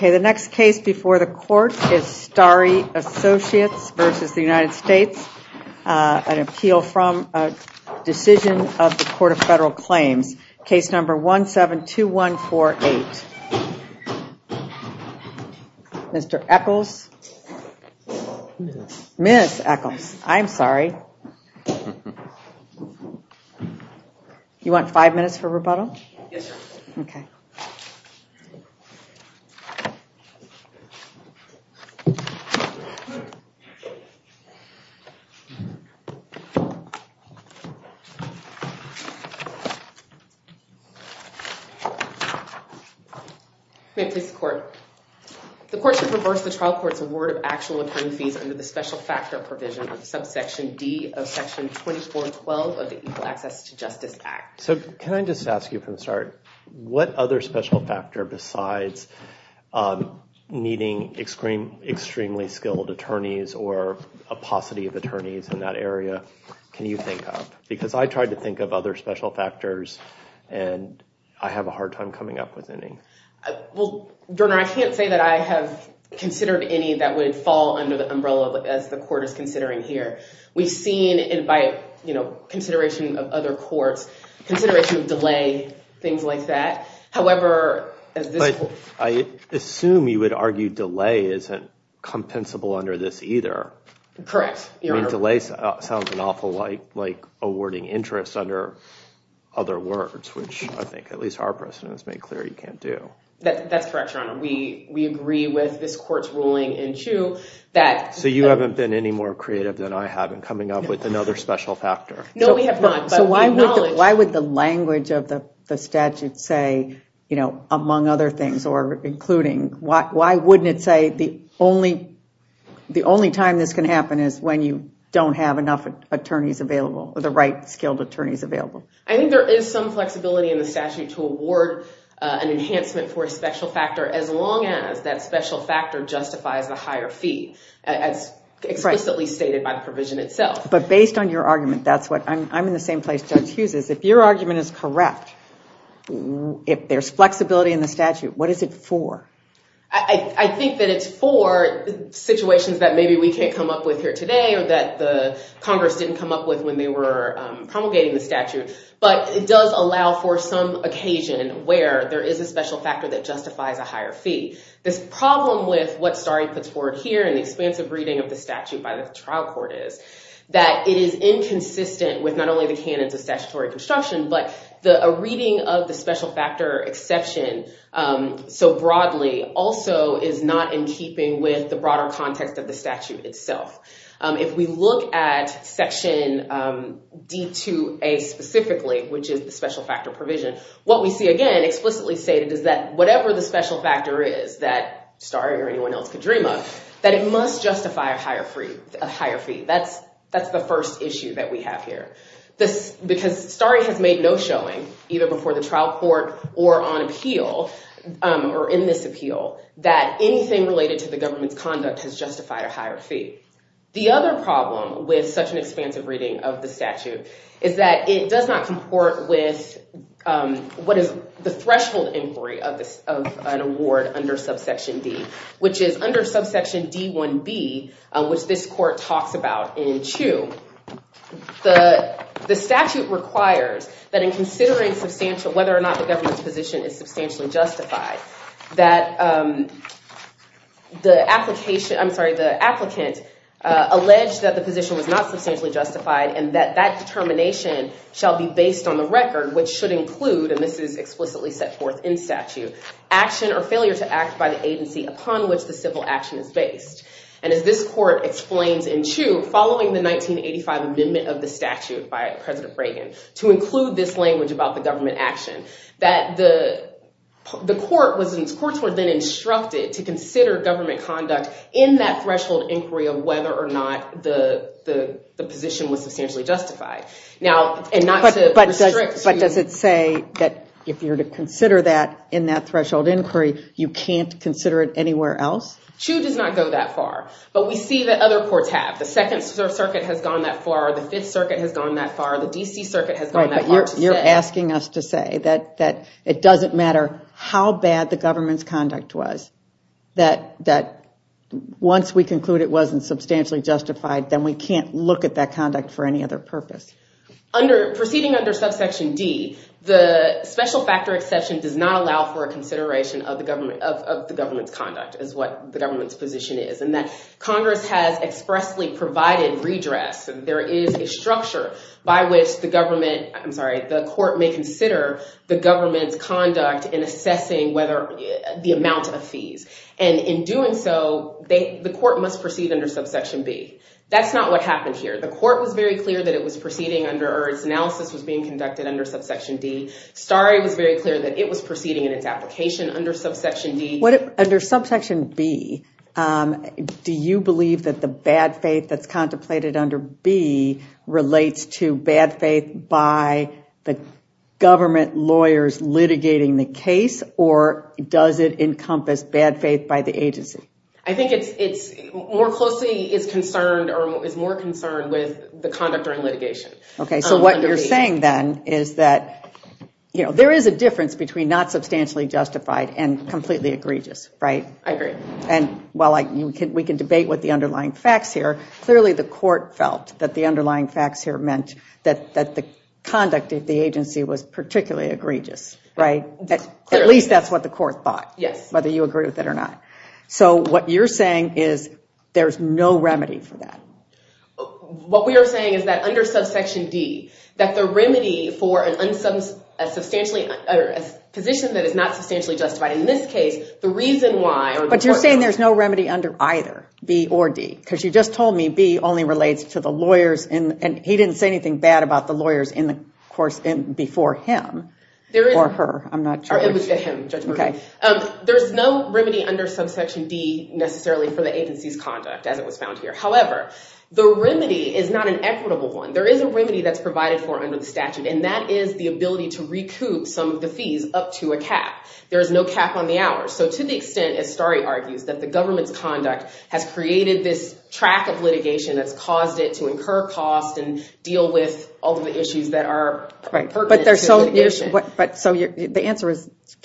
The next case before the court is Starry Associates v. United States, an appeal from a decision of the Court of Federal Claims. Case number 172148, Mr. Echols, Ms. Echols, I'm sorry, you want five minutes for rebuttal? The court should reverse the trial court's award of actual attorney fees under the special factor provision of subsection D of section 2412 of the Equal Access to Justice Act. So can I just ask you from the start, what other special factor besides needing extremely skilled attorneys or a paucity of attorneys in that area can you think of? Because I tried to think of other special factors, and I have a hard time coming up with any. Well, Your Honor, I can't say that I have considered any that would fall under the umbrella as the court is considering here. We've seen it by, you know, consideration of other courts, consideration of delay, things like that. However, as this court- I assume you would argue delay isn't compensable under this either. Correct. I mean, delay sounds an awful like awarding interest under other words, which I think at least our precedent has made clear you can't do. That's correct, Your Honor. We agree with this court's ruling in Chiu that- So you haven't been any more creative than I have in coming up with another special factor? No, we have not. But we acknowledge- So why would the language of the statute say, you know, among other things or including, why wouldn't it say the only time this can happen is when you don't have enough attorneys available or the right skilled attorneys available? I think there is some flexibility in the statute to award an enhancement for a special factor as long as that special factor justifies the higher fee, as explicitly stated by the provision itself. But based on your argument, that's what- I'm in the same place Judge Hughes is. If your argument is correct, if there's flexibility in the statute, what is it for? I think that it's for situations that maybe we can't come up with here today or that the Congress didn't come up with when they were promulgating the statute. But it does allow for some occasion where there is a special factor that justifies a higher fee. This problem with what Starry puts forward here in the expansive reading of the statute by the trial court is that it is inconsistent with not only the canons of statutory construction, but a reading of the special factor exception so broadly also is not in keeping with the broader context of the statute itself. If we look at section D2A specifically, which is the special factor provision, what we see again explicitly stated is that whatever the special factor is that Starry or anyone else could dream of, that it must justify a higher fee. That's the first issue that we have here. Because Starry has made no showing, either before the trial court or on appeal, or in this appeal, that anything related to the government's conduct has justified a higher fee. The other problem with such an expansive reading of the statute is that it does not comport with what is the threshold inquiry of an award under subsection D, which is under subsection D1B, which this court talks about in two. The statute requires that in considering whether or not the government's position is substantially justified, that the applicant allege that the position was not substantially justified and that that determination shall be based on the record, which should include, and this is explicitly set forth in statute, action or failure to act by the agency upon which the civil action is based. As this court explains in two, following the 1985 amendment of the statute by President Reagan to include this language about the government action, that the courts were then instructed to consider government conduct in that threshold inquiry of whether or not the position was substantially justified. But does it say that if you're to consider that in that threshold inquiry, you can't consider it anywhere else? Two does not go that far, but we see that other courts have. The Second Circuit has gone that far, the Fifth Circuit has gone that far, the DC Circuit has gone that far. You're asking us to say that it doesn't matter how bad the government's conduct was, that once we conclude it wasn't substantially justified, then we can't look at that conduct for any other purpose. Proceeding under subsection D, the special factor exception does not allow for a consideration of the government's conduct is what the government's position is, and that Congress has expressly provided redress. There is a structure by which the government, I'm sorry, the court may consider the government's conduct in assessing whether the amount of fees. And in doing so, the court must proceed under subsection B. That's not what happened here. The court was very clear that it was proceeding under, or its analysis was being conducted under subsection D. Starry was very clear that it was proceeding in its application under subsection D. Under subsection B, do you believe that the bad faith that's contemplated under B relates to bad faith by the government lawyers litigating the case, or does it relate to bad faith by the agency? I think it's more closely is concerned or is more concerned with the conduct during litigation. Okay. So what you're saying then is that, you know, there is a difference between not substantially justified and completely egregious, right? I agree. And while we can debate what the underlying facts here, clearly the court felt that the underlying facts here meant that the conduct of the agency was particularly egregious, right? At least that's what the court thought. Yes. Whether you agree with it or not. So what you're saying is there's no remedy for that. What we are saying is that under subsection D, that the remedy for a position that is not substantially justified, in this case, the reason why. But you're saying there's no remedy under either B or D? Because you just told me B only relates to the lawyers and he didn't say anything bad about the lawyers in the course before him or her. I'm not sure. It was him, Judge Murphy. There's no remedy under subsection D necessarily for the agency's conduct, as it was found here. However, the remedy is not an equitable one. There is a remedy that's provided for under the statute, and that is the ability to recoup some of the fees up to a cap. There is no cap on the hours. So to the extent, as Starry argues, that the government's conduct has created this track of litigation that's caused it to incur costs and deal with all of the issues that are pertinent to litigation. But so the answer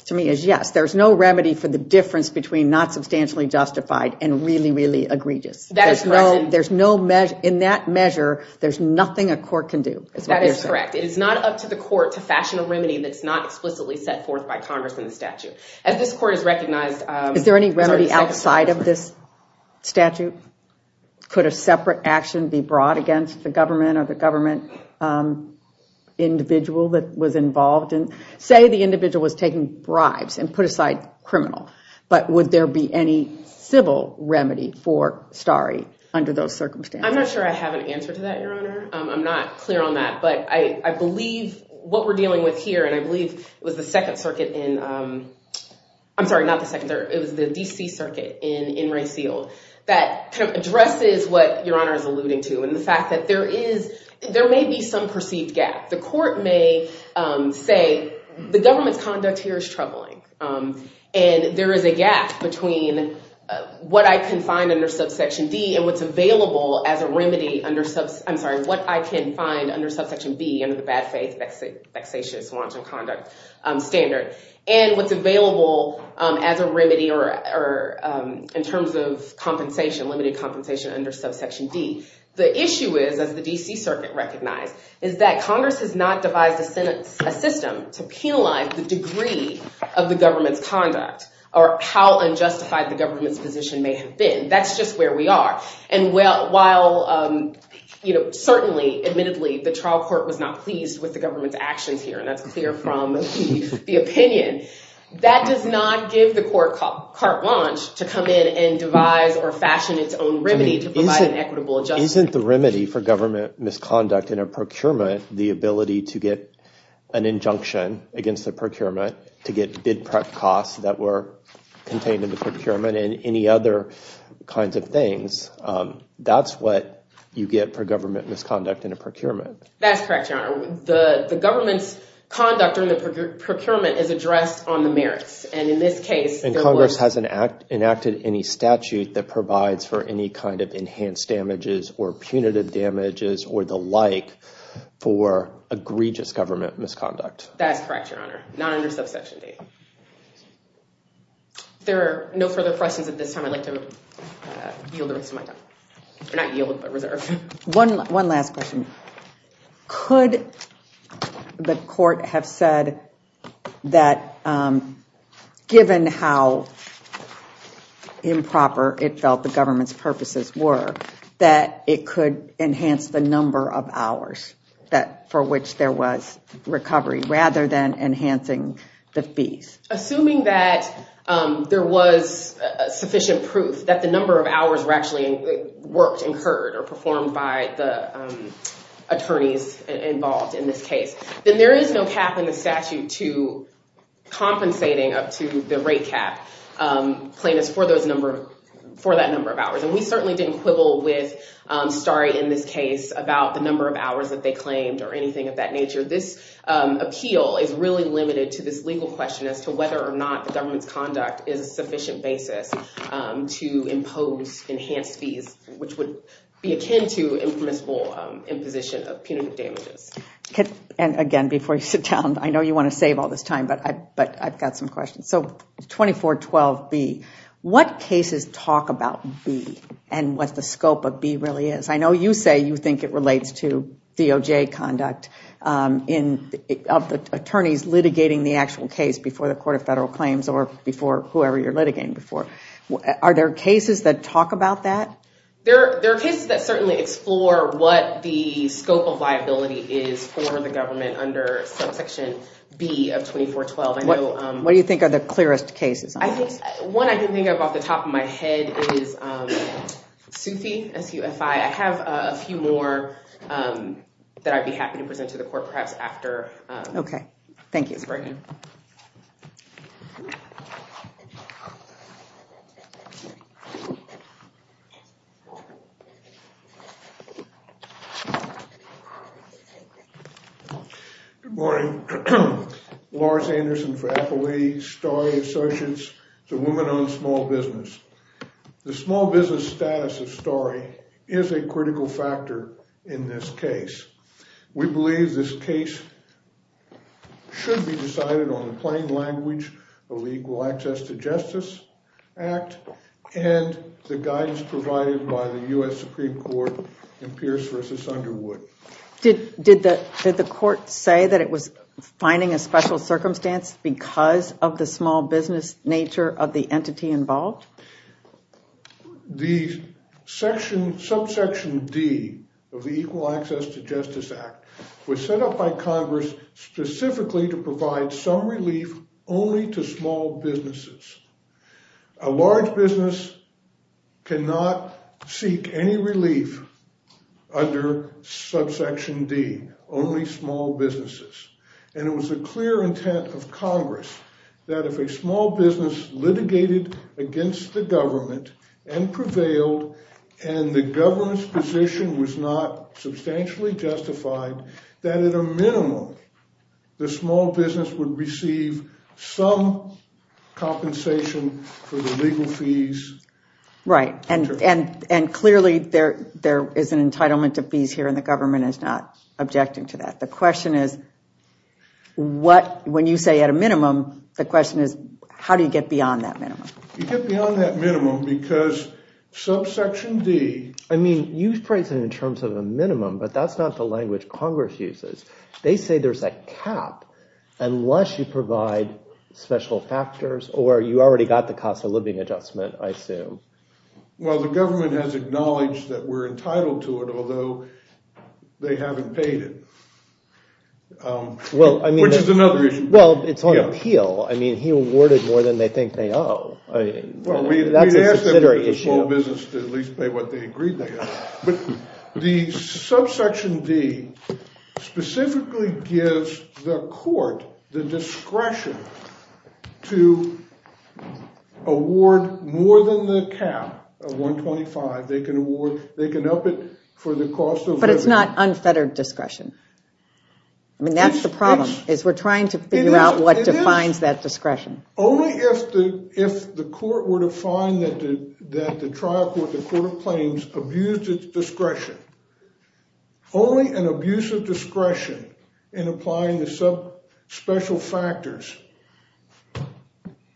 to me is yes, there's no remedy for the difference between not substantially justified and really, really egregious. That is correct. There's no, in that measure, there's nothing a court can do. That is correct. It is not up to the court to fashion a remedy that's not explicitly set forth by Congress in the statute. As this court has recognized. Is there any remedy outside of this statute? Could a separate action be brought against the government or the government individual that was involved in, say the individual was taking bribes and put aside criminal, but would there be any civil remedy for Starry under those circumstances? I'm not sure I have an answer to that, Your Honor. I'm not clear on that, but I believe what we're dealing with here, and I believe it was the second circuit in, I'm sorry, not the second circuit, it was the DC circuit in, in Rayfield that kind of addresses what Your Honor is alluding to. And the fact that there is, there may be some perceived gap. The court may say, the government's conduct here is troubling. And there is a gap between what I can find under subsection D and what's available as a remedy under sub, I'm sorry, what I can find under subsection B under the bad faith, vexatious, wanton conduct standard. And what's available as a remedy or in terms of compensation, limited compensation under subsection D. The issue is, as the DC circuit recognized, is that Congress has not devised a sentence, a system to penalize the degree of the government's conduct or how unjustified the government's position may have been. That's just where we are. And while, you know, certainly admittedly the trial court was not pleased with the government's actions here, and that's clear from the opinion, that does not give the court carte blanche to come in and devise or fashion its own remedy to Isn't the remedy for government misconduct in a procurement, the ability to get an injunction against the procurement, to get bid prep costs that were contained in the procurement and any other kinds of things, that's what you get for government misconduct in a procurement. That's correct, your honor. The government's conduct during the procurement is addressed on the merits. And in this case, And Congress hasn't enacted any statute that provides for any kind of enhanced damages or punitive damages or the like for egregious government misconduct. That's correct, your honor. Not under subsection D. There are no further questions at this time. I'd like to yield the rest of my time. Not yield, but reserve. One, one last question. Could the court have said that given how improper it felt the government's purposes were, that it could enhance the number of hours that for which there was recovery rather than enhancing the fees? Assuming that there was sufficient proof that the number of hours were actually worked, incurred or performed by the attorneys involved in this case, then there is no cap in the statute to compensating up to the rate cap plaintiffs for that number of hours. And we certainly didn't quibble with Starry in this case about the number of hours that they claimed or anything of that nature. This appeal is really limited to this legal question as to whether or not the government's conduct is a sufficient basis to impose enhanced fees, which would be akin to impermissible imposition of punitive damages. And again, before you sit down, I know you want to save all this time, but I've got some questions. So 2412B, what cases talk about B and what the scope of B really is? I know you say you think it relates to DOJ conduct of the attorneys litigating the actual case before the Court of Federal Claims or before whoever you're litigating before. Are there cases that talk about that? There are cases that certainly explore what the scope of liability is for the government under subsection B of 2412. What do you think are the clearest cases? One I can think of off the top of my head is Sufi, S-U-F-I. I have a few more that I'd be happy to present to the court perhaps after. OK, thank you. Good morning, Lawrence Anderson for Appleby, Story Associates, the woman on small business. The small business status of Story is a critical factor in this case. We believe this case should be decided on the plain language of the Equal Access to Justice Act and the guidance provided by the U.S. Supreme Court in Pierce v. Underwood. Did the court say that it was finding a special circumstance because of the small business nature of the entity involved? The section, subsection D of the Equal Access to Justice Act was set up by Congress specifically to provide some relief only to small businesses. A large business cannot seek any relief under subsection D, only small businesses. And it was a clear intent of Congress that if a small business litigated against the government and prevailed and the government's position was not substantially justified, that at a minimum, the small business would receive some compensation for the legal fees. Right. And and and clearly there there is an entitlement to fees here and the government is not objecting to that. The question is what when you say at a minimum, the question is, how do you get beyond that minimum? You get beyond that minimum because subsection D. I mean, you phrase it in terms of a minimum, but that's not the language Congress uses. They say there's a cap unless you provide special factors or you already got the cost of living adjustment, I assume. Well, the government has acknowledged that we're entitled to it, although they haven't paid it. Well, I mean, which is another issue. Well, it's on appeal. I mean, he awarded more than they think they owe. Well, we've asked the small business to at least pay what they agreed they owe. But the subsection D specifically gives the court the discretion to award more than the cap of 125. They can award, they can up it for the cost. But it's not unfettered discretion. I mean, that's the problem is we're trying to figure out what defines that discretion. Only if the if the court were to find that the trial court, the court of claims abused its discretion. Only an abuse of discretion in applying the sub special factors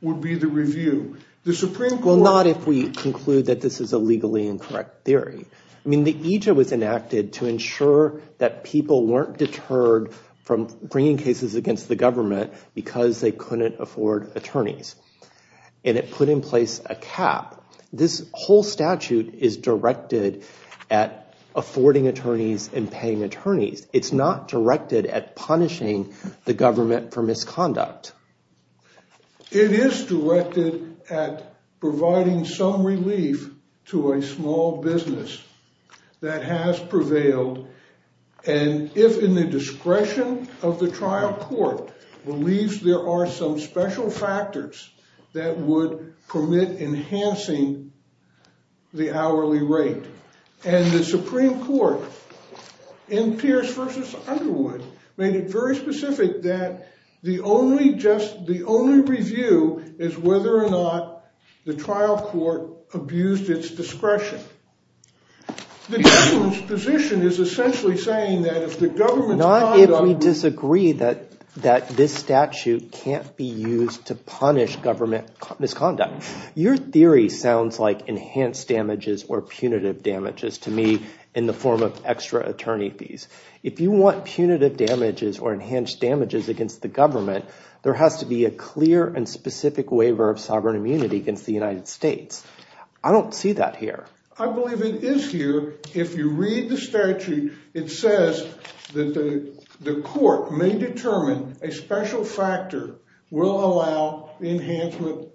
would be the review. The Supreme Court. Well, not if we conclude that this is a legally incorrect theory. I mean, the EJA was enacted to ensure that people weren't deterred from bringing cases against the government because they couldn't afford attorneys and it put in place a cap. This whole statute is directed at affording attorneys and paying attorneys. It's not directed at punishing the government for misconduct. It is directed at providing some relief to a small business that has prevailed. And if in the discretion of the trial court believes there are some special factors that would permit enhancing the hourly rate and the Supreme Court in Pierce versus Underwood made it very specific that the only just the only review is whether or not the trial court abused its discretion. The government's position is essentially saying that if the government. Not if we disagree that that this statute can't be used to punish government misconduct. Your theory sounds like enhanced damages or punitive damages to me in the form of extra attorney fees. If you want punitive damages or enhanced damages against the government, there has to be a clear and specific waiver of sovereign immunity against the United States. I don't see that here. I believe it is here. If you read the statute, it says that the court may determine a special factor will allow the enhancement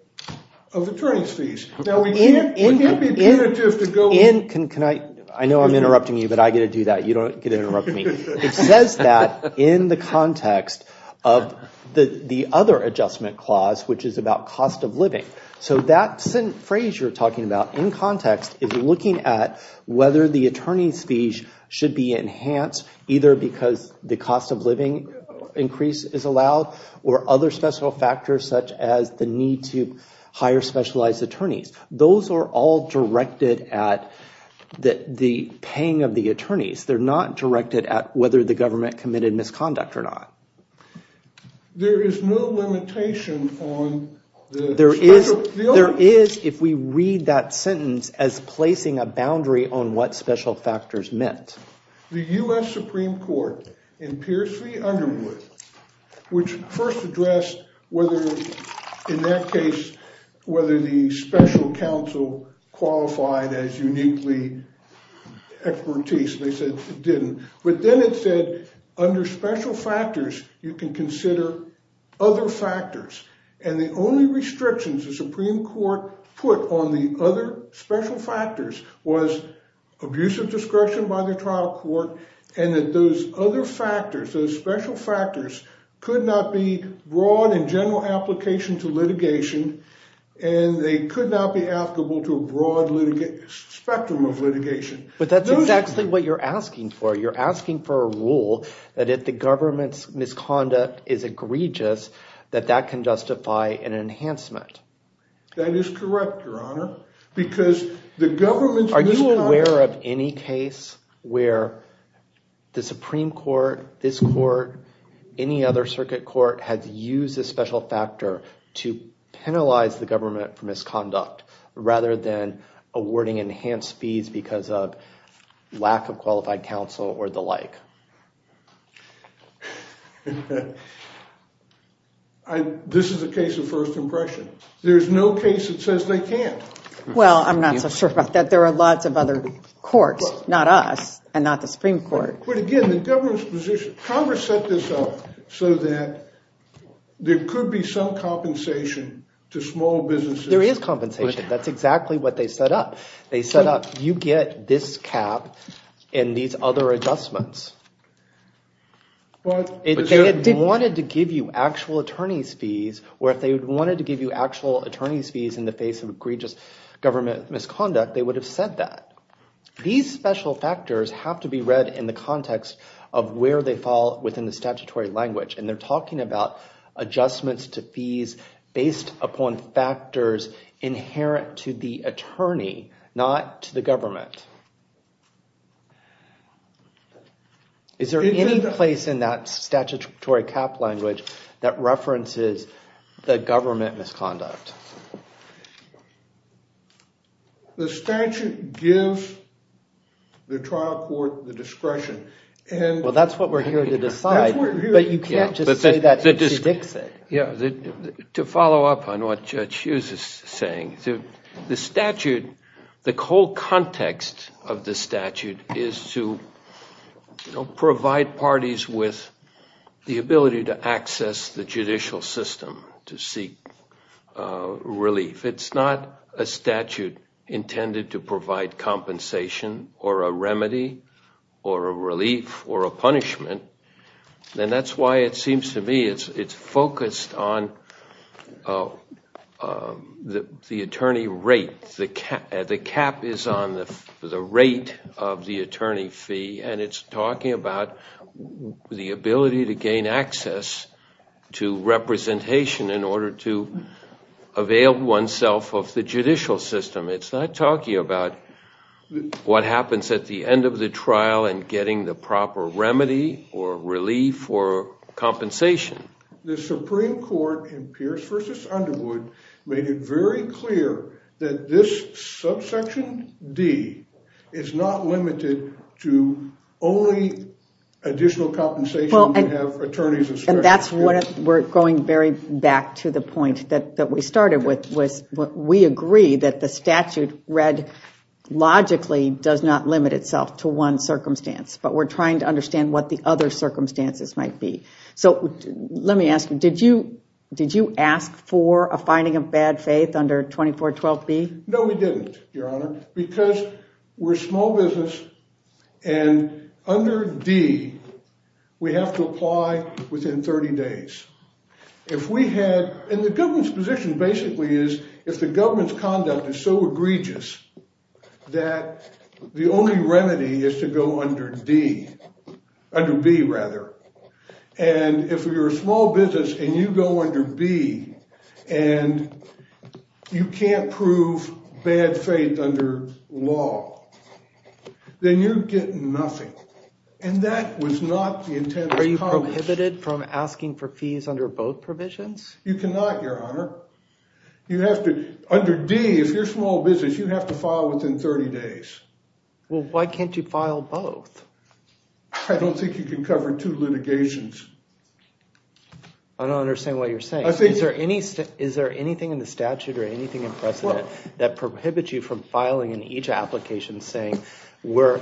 of attorney fees. Now, we can't be punitive to go in. Can I? I know I'm interrupting you, but I get to do that. You don't get to interrupt me. It says that in the context of the other adjustment clause, which is about cost of living. So that phrase you're talking about in context is looking at whether the attorney's fees should be enhanced either because the cost of living increase is allowed or other special factors such as the need to hire specialized attorneys. Those are all directed at the paying of the attorneys. They're not directed at whether the government committed misconduct or not. There is no limitation on. There is. There is. If we read that sentence as placing a boundary on what special factors meant. The U.S. Supreme Court in Pierce v. Underwood, which first addressed whether in that case, whether the special counsel qualified as uniquely expertise. They said it didn't. But then it said under special factors, you can consider other factors. And the only restrictions the Supreme Court put on the other special factors was abusive discretion by the trial court and that those other factors, those special factors could not be broad and general application to litigation. And they could not be applicable to a broad spectrum of litigation. But that's actually what you're asking for. You're asking for a rule that if the government's misconduct is egregious, that that can justify an enhancement. That is correct, Your Honor, because the government. Are you aware of any case where the Supreme Court, this court, any other circuit court has used a special factor to penalize the government for misconduct rather than awarding enhanced fees because of lack of qualified counsel or the like? This is a case of first impression. There's no case that says they can't. Well, I'm not so sure about that. There are lots of other courts, not us and not the Supreme Court. But again, the government's position, Congress set this up so that there could be some compensation to small businesses. There is compensation. That's exactly what they set up. They set up, you get this cap and these other adjustments. But if they wanted to give you actual attorney's fees or if they wanted to give you actual attorney's fees in the face of egregious government misconduct, they would have said that. These special factors have to be read in the context of where they fall within the statutory language. And they're talking about adjustments to fees based upon factors inherent to the attorney, not to the government. Is there any place in that statutory cap language that references the government misconduct? The statute gives the trial court the discretion. And well, that's what we're here to decide, but you can't just say that H.C. Dixit. Yeah. To follow up on what Judge Hughes is saying, the statute, the whole context of the statute is to provide parties with the ability to access the judicial system to seek relief. It's not a statute intended to provide compensation or a remedy or a relief or a punishment. And that's why it seems to me it's focused on the attorney rate. The cap is on the rate of the attorney fee and it's talking about the ability to gain access to representation in order to avail oneself of the judicial system. It's not talking about what happens at the end of the trial and getting the proper remedy or relief or compensation. The Supreme Court in Pierce v. Underwood made it very clear that this subsection D is not limited to only additional compensation. Well, and that's what we're going very back to the point that that we started with was what we agree that the statute read logically does not limit itself to one circumstance, but we're trying to understand what the other circumstances might be. So let me ask you, did you did you ask for a finding of bad faith under 2412 B? No, we didn't, Your Honor, because we're small business. And under D, we have to apply within 30 days. If we had in the government's position basically is if the government's conduct is so egregious that the only remedy is to go under D, under B rather. And if you're a small business and you go under B and you can't prove bad faith under law, then you get nothing. And that was not the intent. Are you prohibited from asking for fees under both provisions? You cannot, Your Honor. You have to under D, if you're small business, you have to file within 30 days. Well, why can't you file both? I don't think you can cover two litigations. I don't understand what you're saying. I think is there any is there anything in the statute or anything in precedent that prohibits you from filing in each application, saying we're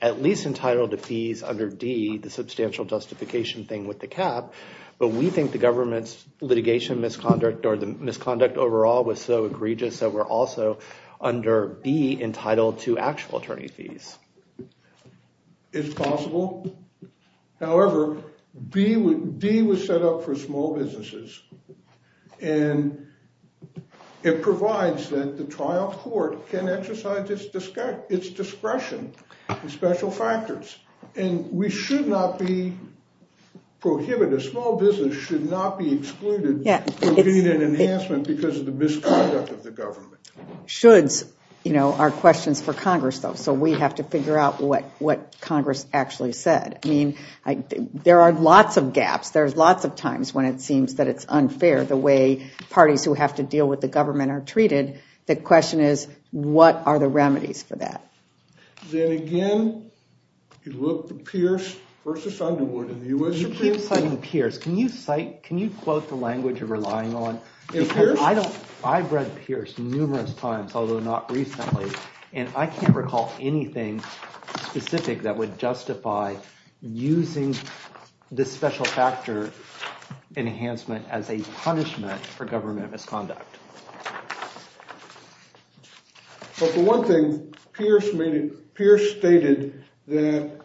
at least entitled to fees under D, the substantial justification thing with the cap. But we think the government's litigation misconduct or the misconduct overall was so egregious that we're also under B entitled to actual attorney fees. It's possible. However, D was set up for small businesses, and it provides that the trial court can exercise its discretion and special factors. And we should not be prohibited. A small business should not be excluded from getting an enhancement because of the misconduct of the government. Shoulds, you know, are questions for Congress, though. So we have to figure out what what Congress actually said. I mean, there are lots of gaps. There's lots of times when it seems that it's unfair the way parties who have to deal with the government are treated. The question is, what are the remedies for that? Then again, you look at Pierce versus Underwood in the U.S. Supreme Court. You keep citing Pierce. Can you cite can you quote the language you're relying on? I don't I've read Pierce numerous times, although not recently. And I can't recall anything specific that would justify using this special factor enhancement as a punishment for government misconduct. But the one thing Pierce stated that.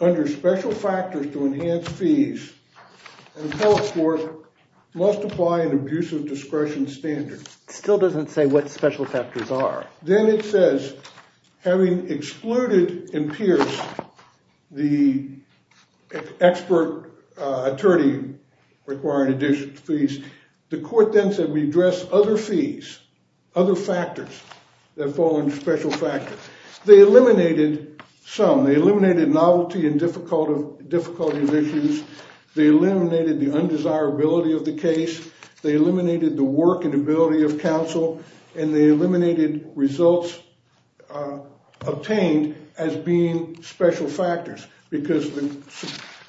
Under special factors to enhance fees, the public court must apply an abuse of discretion standard. It still doesn't say what special factors are. Then it says having excluded in Pierce the expert attorney requiring additional fees, the court then said we address other fees, other factors that fall under special factors. They eliminated some. They eliminated novelty and difficulty of issues. They eliminated the undesirability of the case. They eliminated the work and ability of counsel and they eliminated results obtained as being special factors because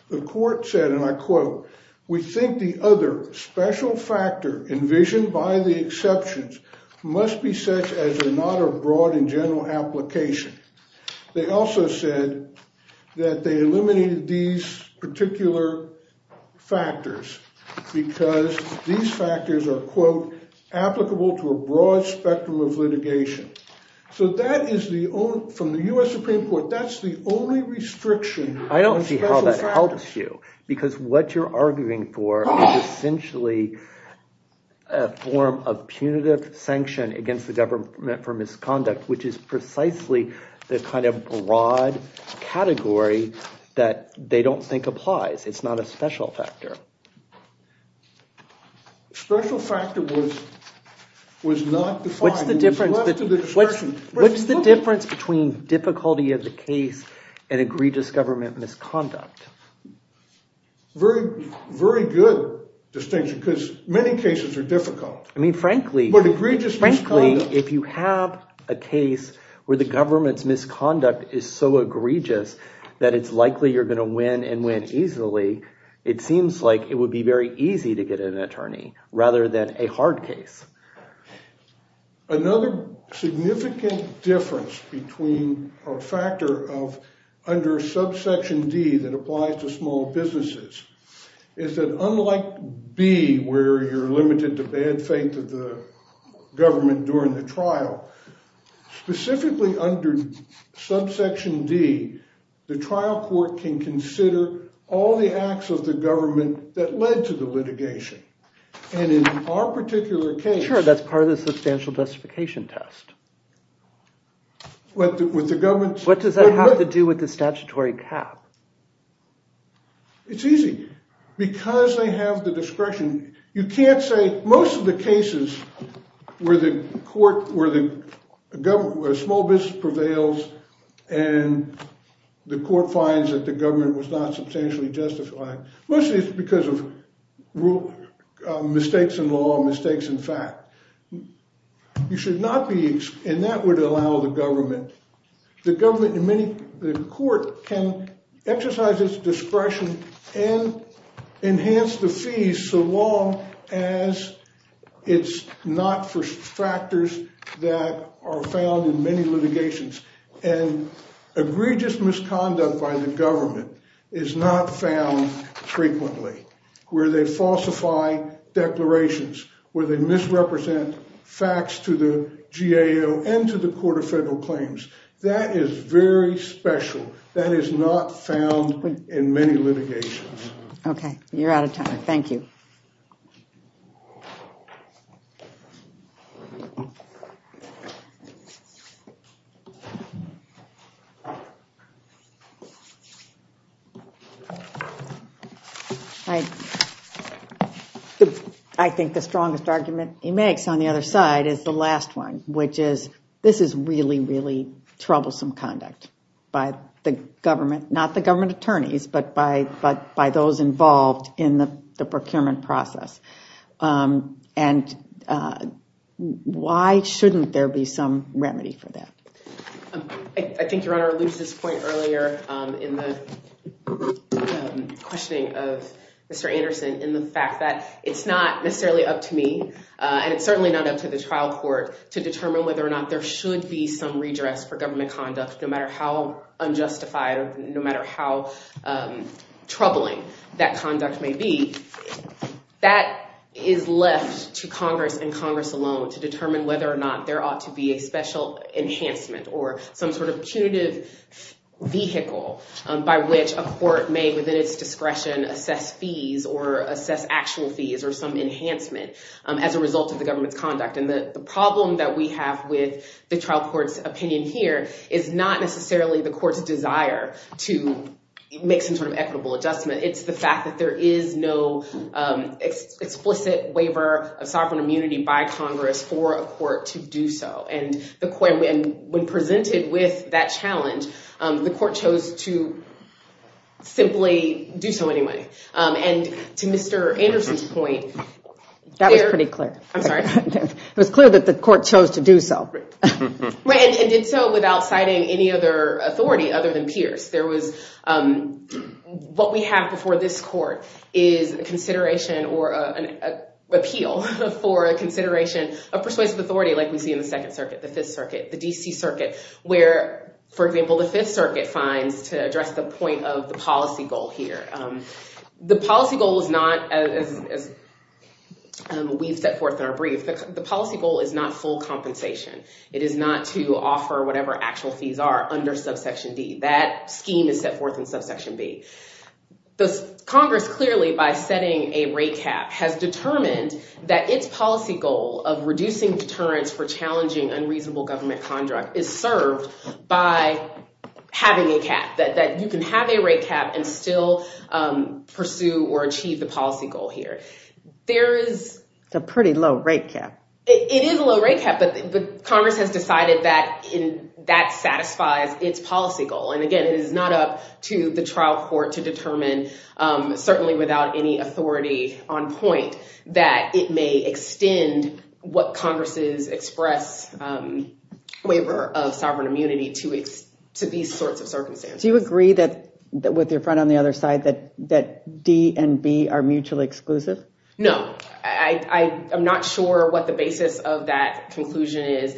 the court said, and I quote, we think the other special factor envisioned by the exceptions must be such as they're not a broad and general application. They also said that they eliminated these particular factors because these factors are quote, applicable to a broad spectrum of litigation. So that is the only from the U.S. Supreme Court. That's the only restriction. I don't see how that helps you, because what you're arguing for is essentially a form of punitive sanction against the government for misconduct, which is precisely the kind of broad category that they don't think applies. It's not a special factor. Special factor was not defined. What's the difference between difficulty of the case and egregious government misconduct? Very, very good distinction because many cases are difficult. I mean, frankly, if you have a case where the government's misconduct is so egregious that it's likely you're going to win and win easily, it seems like it would be very easy to get an attorney rather than a hard case. Another significant difference between a factor of under subsection D that applies to bad faith of the government during the trial, specifically under subsection D, the trial court can consider all the acts of the government that led to the litigation. And in our particular case. Sure, that's part of the substantial justification test. What does that have to do with the statutory cap? It's easy because they have the discretion. You can't say most of the cases where the court, where the government, where small business prevails and the court finds that the government was not substantially justified. Mostly it's because of mistakes in law, mistakes in fact. You should not be, and that would allow the government, the government in many, the court can exercise its discretion and enhance the fees so long as it's not for factors that are found in many litigations. And egregious misconduct by the government is not found frequently where they falsify declarations, where they misrepresent facts to the GAO and to the Court of Federal Claims. That is very special. That is not found in many litigations. OK, you're out of time. Thank you. I think the strongest argument he makes on the other side is the last one, which is this is really, really troublesome conduct by the government, not the government attorneys, but by those involved in the procurement process. And why shouldn't there be some remedy for that? I think Your Honor alludes to this point earlier in the questioning of Mr. Anderson in the fact that it's not necessarily up to me and it's certainly not up to the trial court to be some redress for government conduct, no matter how unjustified, no matter how troubling that conduct may be. That is left to Congress and Congress alone to determine whether or not there ought to be a special enhancement or some sort of punitive vehicle by which a court may, within its discretion, assess fees or assess actual fees or some enhancement as a result of the government's conduct. And the problem that we have with the trial court's opinion here is not necessarily the court's desire to make some sort of equitable adjustment. It's the fact that there is no explicit waiver of sovereign immunity by Congress for a court to do so. And when presented with that challenge, the court chose to simply do so anyway. And to Mr. Anderson's point. That was pretty clear. I'm sorry. It was clear that the court chose to do so. Right, and did so without citing any other authority other than Pierce. There was what we have before this court is a consideration or an appeal for a consideration of persuasive authority, like we see in the Second Circuit, the Fifth Circuit, the D.C. Circuit, where, for example, the Fifth Circuit finds to address the point of the policy goal here. The policy goal is not, as we've set forth in our brief, the policy goal is not full compensation. It is not to offer whatever actual fees are under subsection D. That scheme is set forth in subsection B. The Congress clearly, by setting a rate cap, has determined that its policy goal of reducing deterrence for challenging unreasonable government conduct is served by having a cap, that you can have a rate cap and still pursue or achieve the policy goal here. There is a pretty low rate cap. It is a low rate cap, but Congress has decided that that satisfies its policy goal. And again, it is not up to the trial court to determine, certainly without any authority on point, that it may extend what Congress's express waiver of sovereign immunity to these sorts of circumstances. Do you agree that, with your friend on the other side, that D and B are mutually exclusive? No, I am not sure what the basis of that conclusion is.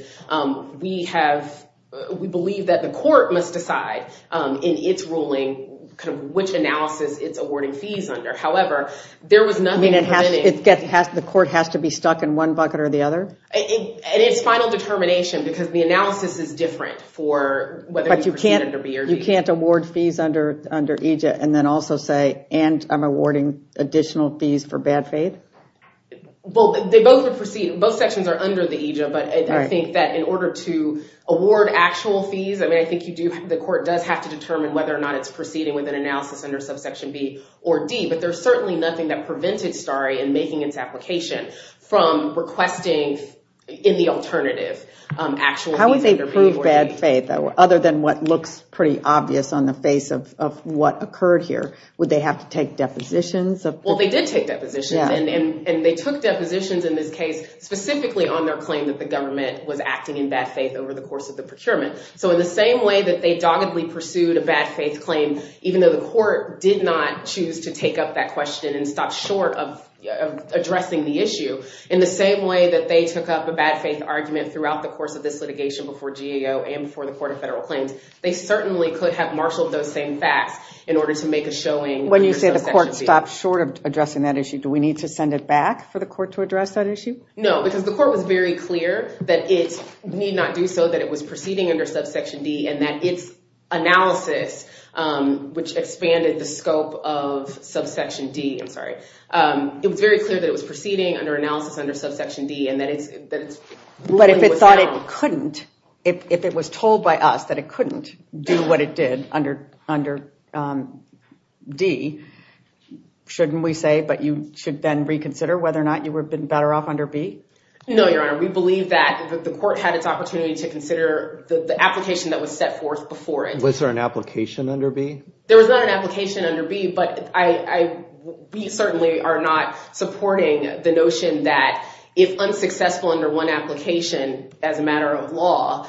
We have, we believe that the court must decide in its ruling which analysis it's awarding fees under. However, there was nothing permitting... I mean, the court has to be stuck in one bucket or the other? And it's final determination, because the analysis is different for whether you present it under B or D. You can't award fees under EJIA and then also say, and I'm awarding additional fees for bad faith? Well, they both would proceed. Both sections are under the EJIA, but I think that in order to award actual fees, I mean, I think you do, the court does have to determine whether or not it's proceeding with an analysis under subsection B or D. But there's certainly nothing that prevented STARI in making its application from requesting in the alternative actual fees under B or D. How would they prove bad faith, other than what looks pretty obvious on the face of what occurred here? Would they have to take depositions? Well, they did take depositions, and they took depositions in this case specifically on their claim that the government was acting in bad faith over the course of the procurement. So in the same way that they doggedly pursued a bad faith claim, even though the court did not choose to take up that question and stop short of addressing the issue, in the same way that they took up a bad faith argument throughout the course of this litigation before GAO and before the Court of Federal Claims, they certainly could have marshaled those same facts in order to make a showing. When you say the court stopped short of addressing that issue, do we need to send it back for the court to address that issue? No, because the court was very clear that it need not do so, that it was proceeding under subsection D and that its analysis, which expanded the scope of subsection D, I'm sorry, it was very clear that it was proceeding under analysis under subsection D and that it's... But if it thought it couldn't, if it was told by us that it couldn't do what it did under D, shouldn't we say, but you should then reconsider whether or not you would have been better off under B? No, Your Honor, we believe that the court had its opportunity to consider the application that was set forth before it. Was there an application under B? There was not an application under B, but we certainly are not supporting the notion that if unsuccessful under one application as a matter of law,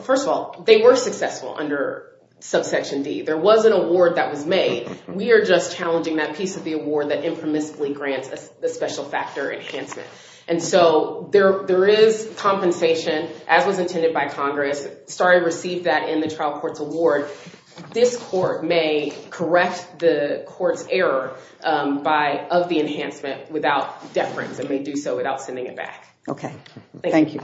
first of all, they were successful under subsection D. There was an award that was made. We are just challenging that piece of the award that impromiscuously grants a special factor enhancement. And so there is compensation, as was intended by Congress, started to receive that in the trial court's award. This court may correct the court's error of the enhancement without deference. It may do so without sending it back. OK, thank you.